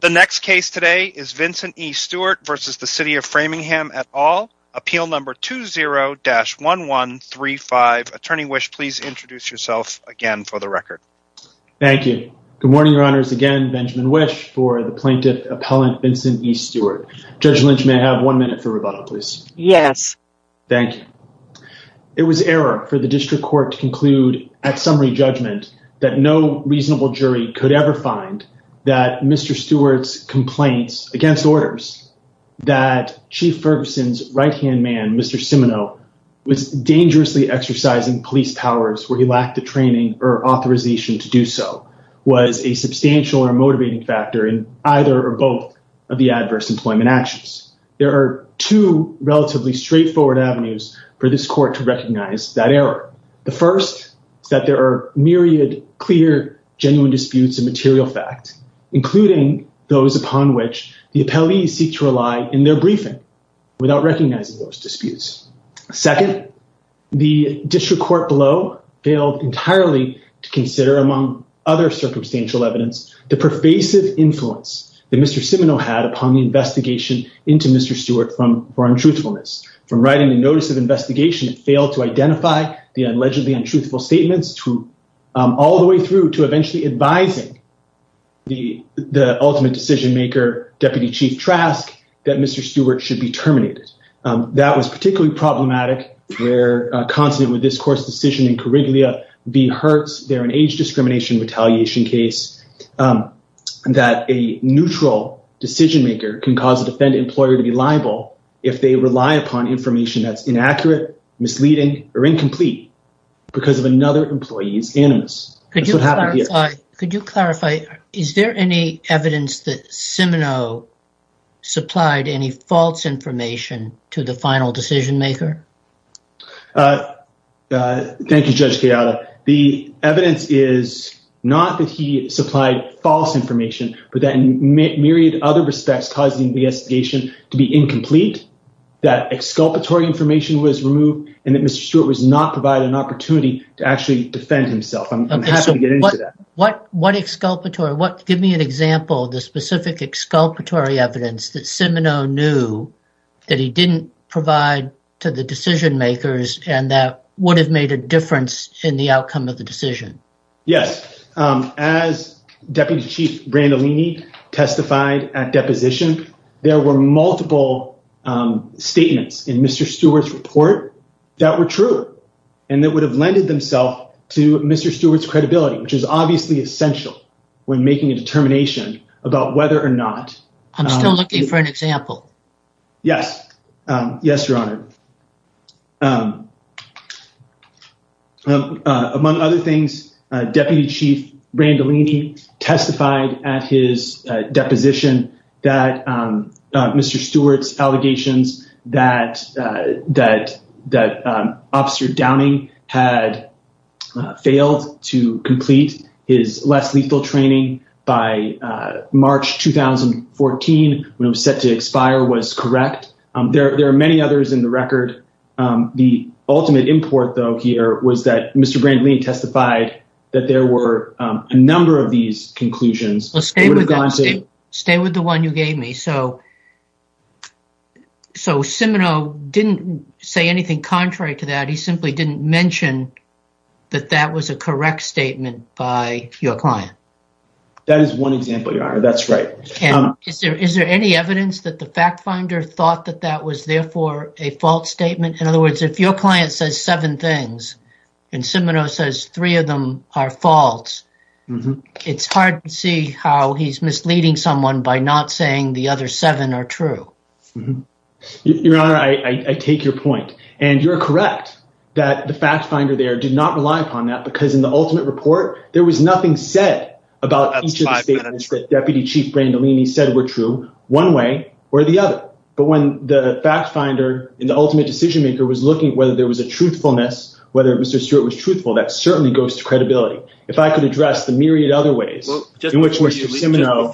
The next case today is Vincent E. Stewart versus the City of Framingham et al, appeal number 20-1135. Attorney Wish, please introduce yourself again for the record. Thank you. Good morning, your honors. Again, Benjamin Wish for the plaintiff appellant Vincent E. Stewart. Judge Lynch, may I have one minute for rebuttal, please? Yes. Thank you. It was error for the district court to conclude at summary judgment that no reasonable jury could ever find that Mr. Stewart's complaints against orders, that Chief Ferguson's right-hand man, Mr. Simino, was dangerously exercising police powers where he lacked the training or authorization to do so, was a substantial or motivating factor in either or both of the adverse employment actions. There are two relatively straightforward avenues for this court to recognize that error. The first is that there are myriad, clear, genuine disputes of material fact, including those upon which the appellees seek to rely in their briefing without recognizing those disputes. Second, the district court below failed entirely to consider, among other circumstantial evidence, the pervasive influence that Mr. Simino had upon the investigation into Mr. Stewart for truthfulness. From writing the notice of investigation, it failed to identify the allegedly untruthful statements, all the way through to eventually advising the ultimate decision-maker, Deputy Chief Trask, that Mr. Stewart should be terminated. That was particularly problematic where, consonant with this court's decision in Coriglia v. Hertz, there an age discrimination retaliation case that a neutral decision-maker can cause a defendant employer to be liable if they rely upon information that's inaccurate, misleading, or incomplete because of another employee's animus. Could you clarify, is there any evidence that Simino supplied any false information to the final decision-maker? Thank you, Judge Chiara. The evidence is not that he supplied false information, but that in myriad other respects causing the investigation to be incomplete, that exculpatory information was removed, and that Mr. Stewart was not provided an opportunity to actually defend himself. I'm happy to get into that. Give me an example of the specific exculpatory evidence that Simino knew that he didn't provide to the decision-makers and that would have made a difference in the outcome of the decision. Yes, as Deputy Chief Brandolini testified at deposition, there were multiple statements in Mr. Stewart's report that were true and that would have lended themselves to Mr. Stewart's credibility, which is obviously essential when making a determination about whether or not... I'm still looking for an example. Yes. Yes, Your Honor. Among other things, Deputy Chief Brandolini testified at his deposition that Mr. Stewart's 2014, when it was set to expire, was correct. There are many others in the record. The ultimate import, though, here was that Mr. Brandolini testified that there were a number of these conclusions. Stay with the one you gave me. So Simino didn't say anything contrary to that. He simply didn't mention that that was a correct statement by your client. That is one example, that's right. Is there any evidence that the fact finder thought that that was therefore a false statement? In other words, if your client says seven things and Simino says three of them are false, it's hard to see how he's misleading someone by not saying the other seven are true. Your Honor, I take your point and you're correct that the fact finder there did not rely upon that because in the ultimate report there was nothing said about each of the statements that Deputy Chief Brandolini said were true one way or the other. But when the fact finder in the ultimate decision maker was looking whether there was a truthfulness, whether Mr. Stewart was truthful, that certainly goes to credibility. If I could address the myriad other ways in which Mr. Simino...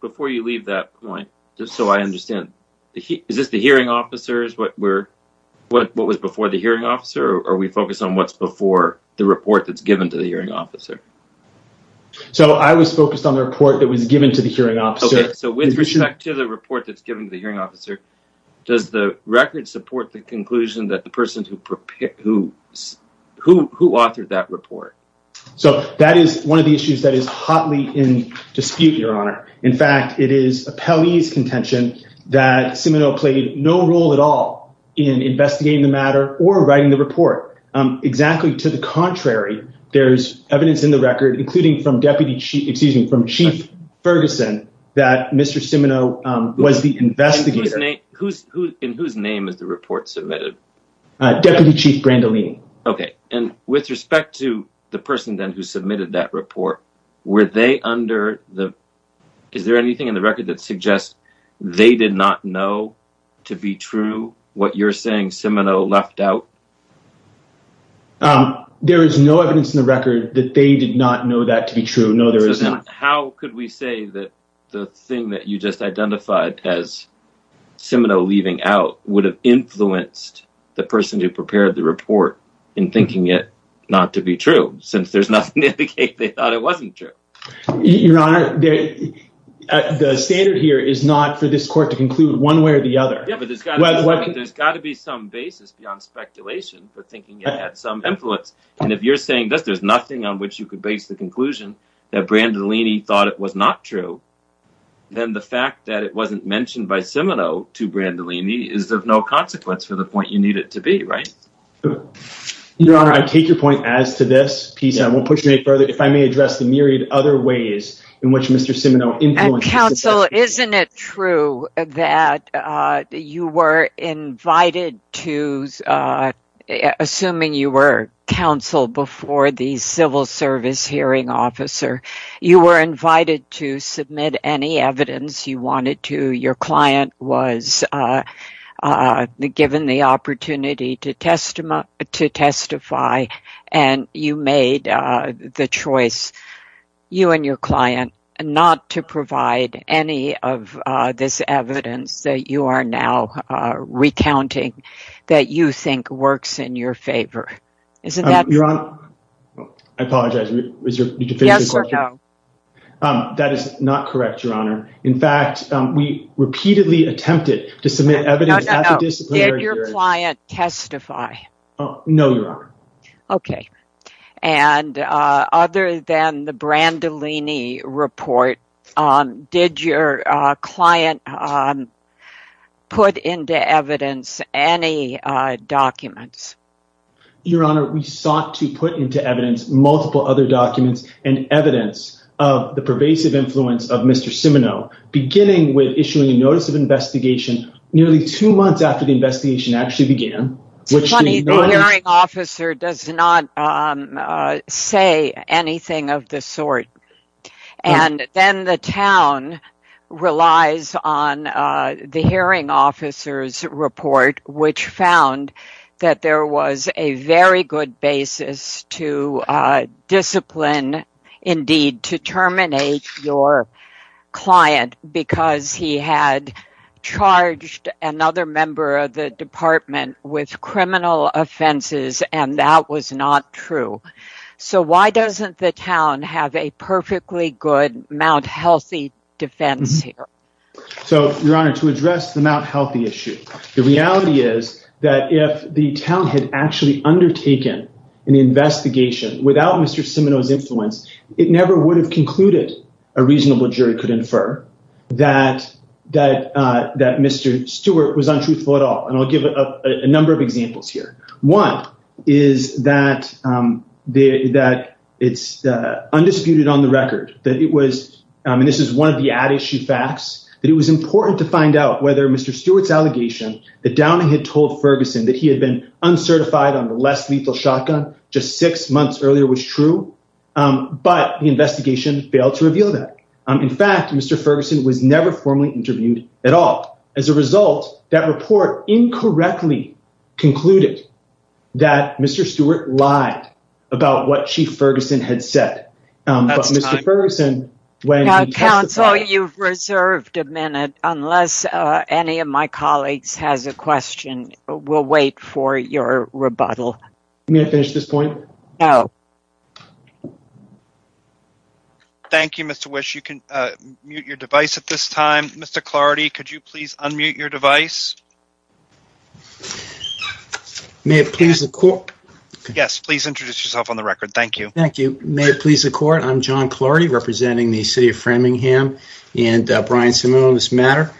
Before you leave that point, just so I understand, is this the hearing officers? What was before the hearing officer or are we focused on what's before the report that's given to the hearing officer? So I was focused on the report that was given to the hearing officer. So with respect to the report that's given to the hearing officer, does the record support the conclusion that the person who authored that report? So that is one of the issues that is hotly in dispute, Your Honor. In fact, it is a Pele's contention that Simino played no role at all in investigating the matter or writing the report. Exactly to the contrary, there's evidence in the record, including from Deputy Chief, excuse me, from Chief Ferguson that Mr. Simino was the investigator. In whose name is the report submitted? Deputy Chief Brandolini. Okay. And with respect to the person then who submitted that report, were they under the... What you're saying Simino left out? There is no evidence in the record that they did not know that to be true. No, there is not. How could we say that the thing that you just identified as Simino leaving out would have influenced the person who prepared the report in thinking it not to be true? Since there's nothing to indicate they thought it wasn't true. Your Honor, the standard here is not for this There's got to be some basis beyond speculation for thinking it had some influence. And if you're saying that there's nothing on which you could base the conclusion that Brandolini thought it was not true, then the fact that it wasn't mentioned by Simino to Brandolini is of no consequence for the point you need it to be, right? Your Honor, I take your point as to this piece. I won't push it any further. If I may address the myriad other ways in which Mr. Simino influences... Counsel, isn't it true that you were invited to... Assuming you were counsel before the civil service hearing officer, you were invited to submit any evidence you wanted to. Your client was given the opportunity to testify and you made the choice, you and your client, not to provide any of this evidence that you are now recounting that you think works in your favor. Isn't that... Your Honor, I apologize. That is not correct, Your Honor. In fact, we repeatedly attempted to submit evidence... Did your client testify? No, Your Honor. Okay. And other than the Brandolini report, did your client put into evidence any documents? Your Honor, we sought to put into evidence multiple other documents and evidence of the pervasive influence of Mr. Simino, beginning with issuing a notice of investigation nearly two months after the investigation actually began. It's funny. The hearing officer does not say anything of the sort. And then the town relies on the hearing officer's report, which found that there was a very good basis to discipline, indeed, to terminate your client because he had charged another member of the department with criminal offenses and that was not true. So why doesn't the town have a perfectly good Mount Healthy defense here? So, Your Honor, to address the Mount Healthy issue, the reality is that if the town had actually undertaken an investigation without Mr. Simino's influence, it never would have concluded, a reasonable jury could infer, that Mr. Stewart was untruthful at all. And I'll give a number of examples here. One is that it's undisputed on the record that it was, and this is one of the ad issue facts, that it was important to find out whether Mr. Stewart's that he had been uncertified on the less lethal shotgun just six months earlier was true. But the investigation failed to reveal that. In fact, Mr. Ferguson was never formally interviewed at all. As a result, that report incorrectly concluded that Mr. Stewart lied about what Chief Ferguson had said. Now, counsel, you've reserved a minute unless any of my colleagues has a question. We'll wait for your rebuttal. May I finish this point? No. Thank you, Mr. Wish. You can mute your device at this time. Mr. Clardy, could you please unmute your device? May it please the court. Yes, please introduce yourself on the record. Thank you. Thank you. May it please the court. I'm John Clardy representing the City of Framingham and Brian Simone on this matter.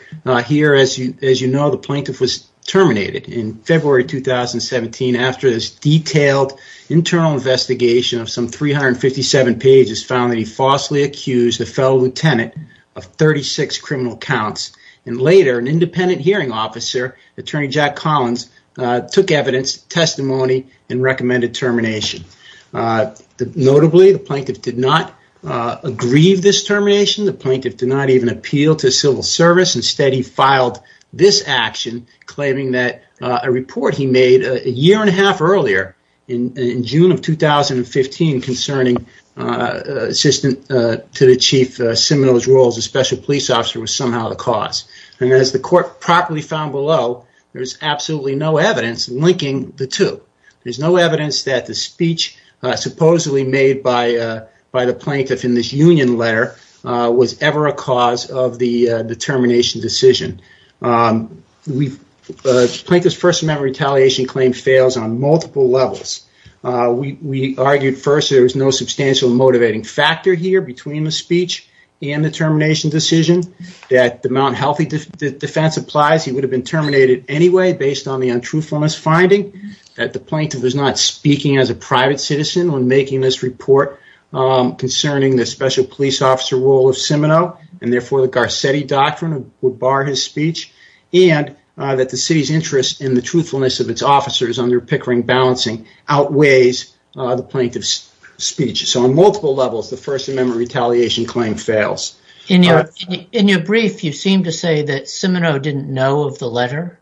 Here, as you know, the plaintiff was terminated in February 2017 after this detailed internal investigation of some 357 pages found that he falsely accused a fellow lieutenant of 36 criminal counts. And later, an independent hearing officer, Attorney Jack Collins, took evidence, testimony, and recommended termination. Notably, the plaintiff did not aggrieve this termination. The plaintiff did not even appeal to civil service. Instead, he filed this action claiming that a report he made a year and a half earlier in June of 2015 concerning an assistant to the chief, a special police officer, was somehow the cause. And as the court properly found below, there's absolutely no evidence linking the two. There's no evidence that the speech supposedly made by the plaintiff in this union letter was ever a cause of the termination decision. Plaintiff's first amendment retaliation claim fails on multiple levels. We argued first there was no substantial motivating factor here between the speech and the termination decision, that the Mount Healthy defense applies. He would have been speaking as a private citizen when making this report concerning the special police officer role of Simino. And therefore, the Garcetti doctrine would bar his speech. And that the city's interest in the truthfulness of its officers under Pickering balancing outweighs the plaintiff's speech. So on multiple levels, the first amendment retaliation claim fails. In your brief, you seem to say that Simino didn't know of the letter.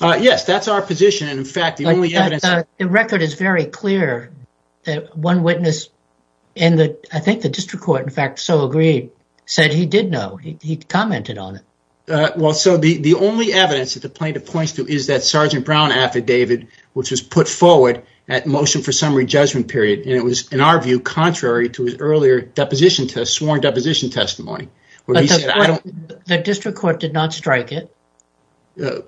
Yes, that's our position. And in fact, the only evidence... The record is very clear that one witness in the... I think the district court, in fact, so agreed, said he did know. He commented on it. Well, so the only evidence that the plaintiff points to is that Sergeant Brown affidavit, which was put forward at motion for summary judgment period. And it was, in our view, contrary to his earlier deposition test, sworn deposition testimony. But the district court did not strike it.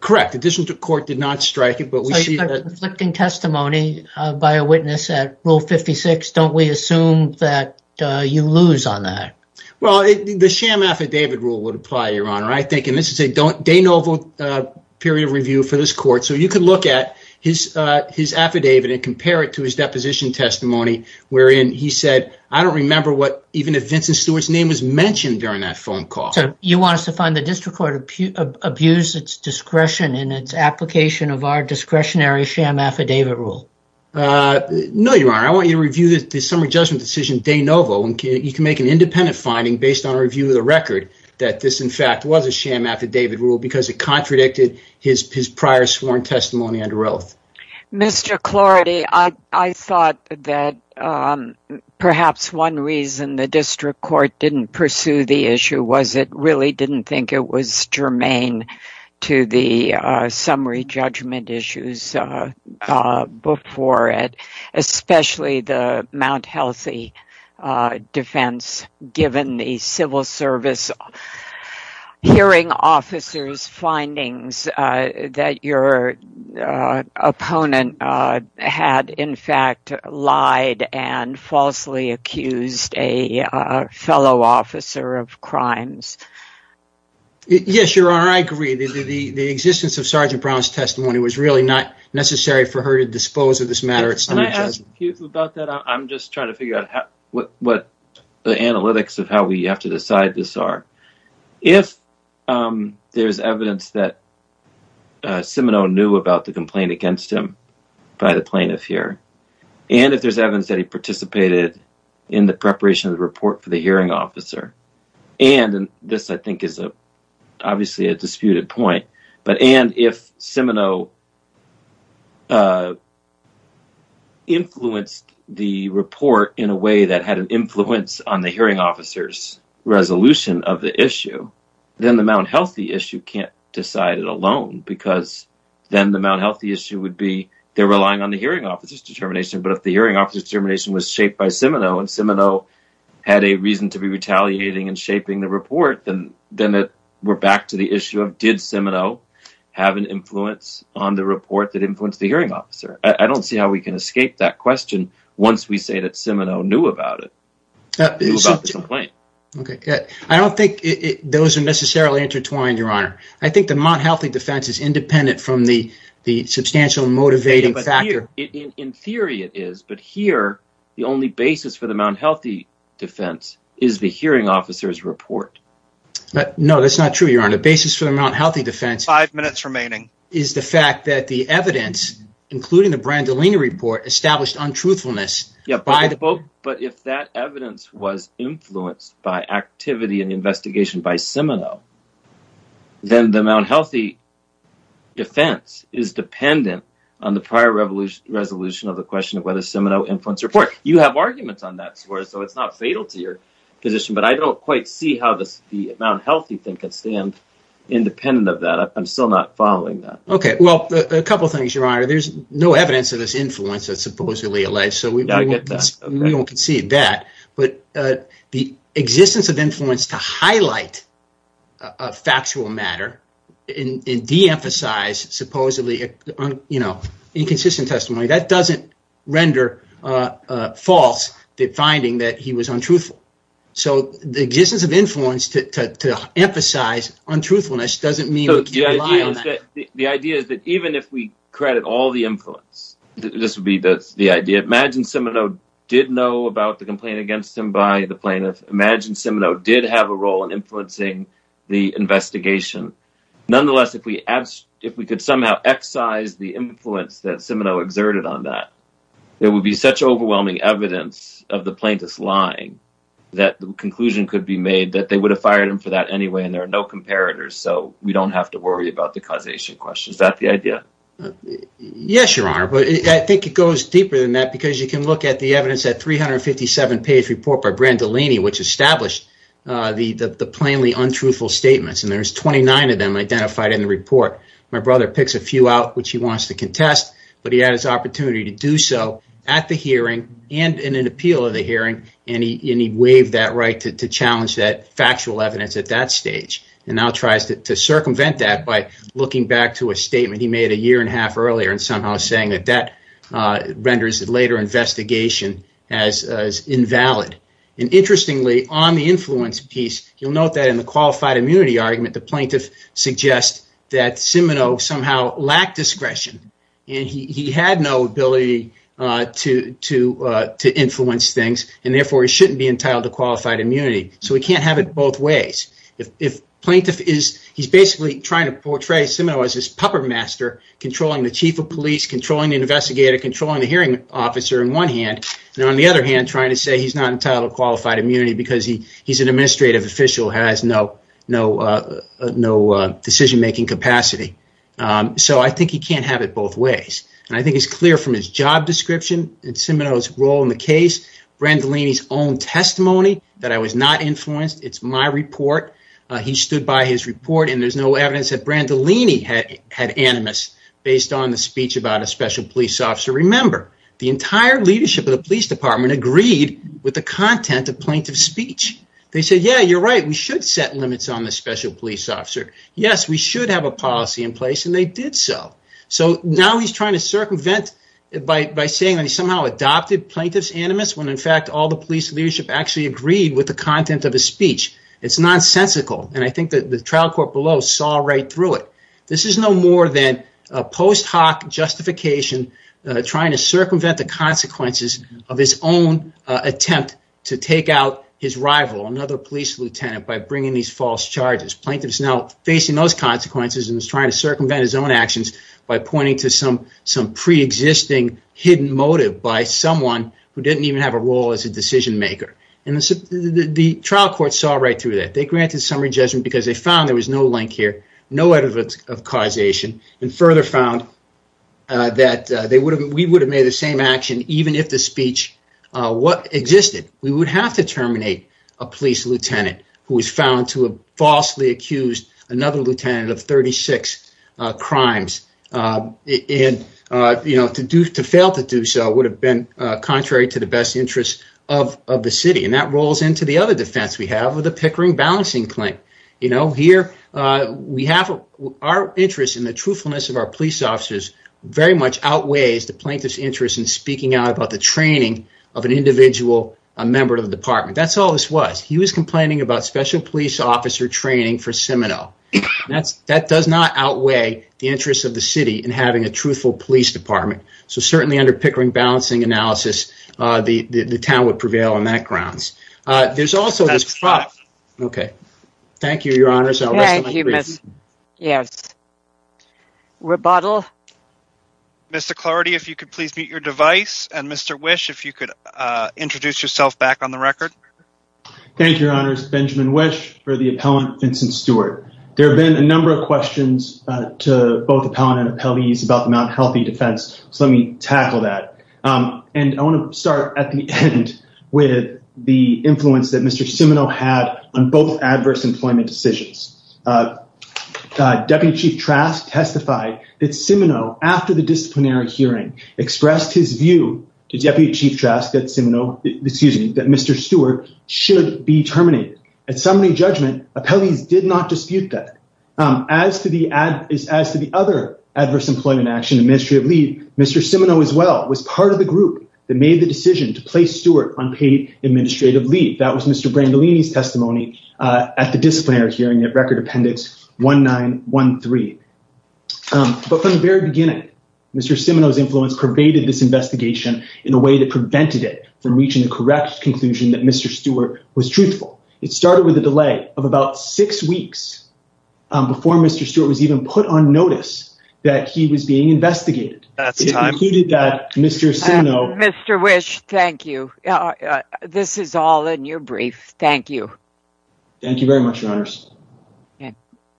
Correct. The district court did not strike it, but we see... So it's a conflicting testimony by a witness at Rule 56. Don't we assume that you lose on that? Well, the sham affidavit rule would apply, Your Honor. I think, and this is a de novo period of review for this court. So you could look at his affidavit and compare it to his deposition testimony, wherein he said, I don't remember what even if Vincent Stewart's name was mentioned during that phone call. So you want us to find the district court abused its discretion in its application of our discretionary sham affidavit rule? No, Your Honor. I want you to review the summary judgment decision de novo, and you can make an independent finding based on a review of the record that this, in fact, was a sham affidavit rule because it contradicted his prior sworn testimony under oath. Mr. Clardy, I thought that perhaps one reason the district court didn't pursue the issue was it really didn't think it was germane to the summary judgment issues before it, especially the Mount Opponent had, in fact, lied and falsely accused a fellow officer of crimes. Yes, Your Honor, I agree. The existence of Sergeant Brown's testimony was really not necessary for her to dispose of this matter. Can I ask you about that? I'm just trying to figure out what the analytics of how we have decided this are. If there's evidence that Simino knew about the complaint against him by the plaintiff here, and if there's evidence that he participated in the preparation of the report for the hearing officer, and this, I think, is obviously a disputed point, but if Simino influenced the report in a way that had an influence on the hearing officer's resolution of the issue, then the Mount Healthy issue can't decide it alone because then the Mount Healthy issue would be they're relying on the hearing officer's determination, but if the hearing officer's determination was shaped by Simino, and Simino had a reason to be retaliating and shaping the report, then we're back to the issue of did Simino have an influence? On the report that influenced the hearing officer. I don't see how we can escape that question once we say that Simino knew about it. I don't think those are necessarily intertwined, Your Honor. I think the Mount Healthy defense is independent from the substantial motivating factor. In theory, it is, but here, the only basis for the Mount Healthy defense is the hearing officer's report. No, that's not true, Your Honor. The basis for the Mount Healthy defense Five minutes remaining. is the fact that the evidence, including the Brandolini report, established untruthfulness. But if that evidence was influenced by activity and investigation by Simino, then the Mount Healthy defense is dependent on the prior resolution of the question of whether Simino influenced the report. You have arguments on that, so it's not fatal to your position, but I don't quite see how the Mount Healthy thing can stand independent of that. I'm still not following that. A couple of things, Your Honor. There's no evidence of this influence that's supposedly alleged, so we don't concede that, but the existence of influence to highlight a factual matter and de-emphasize supposedly inconsistent testimony, that doesn't render false the finding that he was untruthful. So the existence of influence to emphasize untruthfulness doesn't rely on that. The idea is that even if we credit all the influence, this would be the idea. Imagine Simino did know about the complaint against him by the plaintiff. Imagine Simino did have a role in influencing the investigation. Nonetheless, if we could somehow excise the influence that Simino exerted on that, there would be such overwhelming evidence of the plaintiff's lying that the conclusion could be made that they would have fired him for that anyway, there are no comparators, so we don't have to worry about the causation question. Is that the idea? Yes, Your Honor, but I think it goes deeper than that because you can look at the evidence at 357-page report by Brandolini, which established the plainly untruthful statements, and there's 29 of them identified in the report. My brother picks a few out which he wants to contest, but he had his opportunity to do so at the hearing and in an appeal of the hearing, and he waived that right to challenge that factual evidence at that stage and now tries to circumvent that by looking back to a statement he made a year and a half earlier and somehow saying that that renders the later investigation as invalid. Interestingly, on the influence piece, you'll note that in the qualified immunity argument, the plaintiff suggests that Simino shouldn't be entitled to qualified immunity, so he can't have it both ways. He's basically trying to portray Simino as this puppermaster controlling the chief of police, controlling the investigator, controlling the hearing officer on one hand, and on the other hand, trying to say he's not entitled to qualified immunity because he's an administrative official who has no decision-making capacity, so I think he can't have it both ways, and I think it's clear from his job description and Simino's role in the case, Brandolini's own testimony that I was not influenced. It's my report. He stood by his report, and there's no evidence that Brandolini had animus based on the speech about a special police officer. Remember, the entire leadership of the police department agreed with the content of plaintiff's speech. They said, yeah, you're right. We should set limits on the special police officer. Yes, we should have a policy in place, and they did so, so now he's trying to circumvent it by saying that he somehow adopted plaintiff's animus when, in fact, all the police leadership actually agreed with the content of his speech. It's nonsensical, and I think that the trial court below saw right through it. This is no more than a post hoc justification trying to circumvent the consequences of his own attempt to take out his rival, another police lieutenant, by bringing these false charges. Plaintiff is now facing those consequences and is trying to circumvent his own actions by pointing to some pre-existing hidden motive by someone who didn't even have a role as a decision maker. The trial court saw right through that. They granted summary judgment because they found there was no link here, no evidence of causation, and further found that we would have made the same action even if the speech existed. We would have to terminate a police lieutenant who was found to have falsely accused another lieutenant of 36 crimes. To fail to do so would have been contrary to the best interests of the city, and that rolls into the other defense we have of the Pickering balancing claim. Our interest in the truthfulness of our police officers very much outweighs the plaintiff's interest in speaking out about the training of an individual member of the department. That's he was complaining about special police officer training for Seminole. That does not outweigh the interest of the city in having a truthful police department. Certainly under Pickering balancing analysis, the town would prevail on that grounds. Thank you, your honors. Mr. Clardy, if you could please mute your device, and Mr. Wish, if you could introduce yourself back on the record. Thank you, your honors. Benjamin Wish for the appellant, Vincent Stewart. There have been a number of questions to both appellant and appellees about the Mount Healthy defense, so let me tackle that. I want to start at the end with the influence that Mr. Seminole had on both adverse employment decisions. Deputy Chief Trask testified that Chief Trask, excuse me, that Mr. Stewart should be terminated. At summary judgment, appellees did not dispute that. As to the other adverse employment action, administrative leave, Mr. Seminole as well was part of the group that made the decision to place Stewart on paid administrative leave. That was Mr. Brandolini's testimony at the disciplinary hearing at Record 1913. But from the very beginning, Mr. Seminole's influence pervaded this investigation in a way that prevented it from reaching the correct conclusion that Mr. Stewart was truthful. It started with a delay of about six weeks before Mr. Stewart was even put on notice that he was being investigated. Mr. Wish, thank you. This is all in your brief. Thank you. Thank you very much, your honors.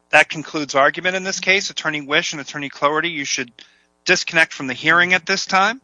That concludes argument in this case. Attorney Wish and Attorney Clarity, you should disconnect from the hearing at this time.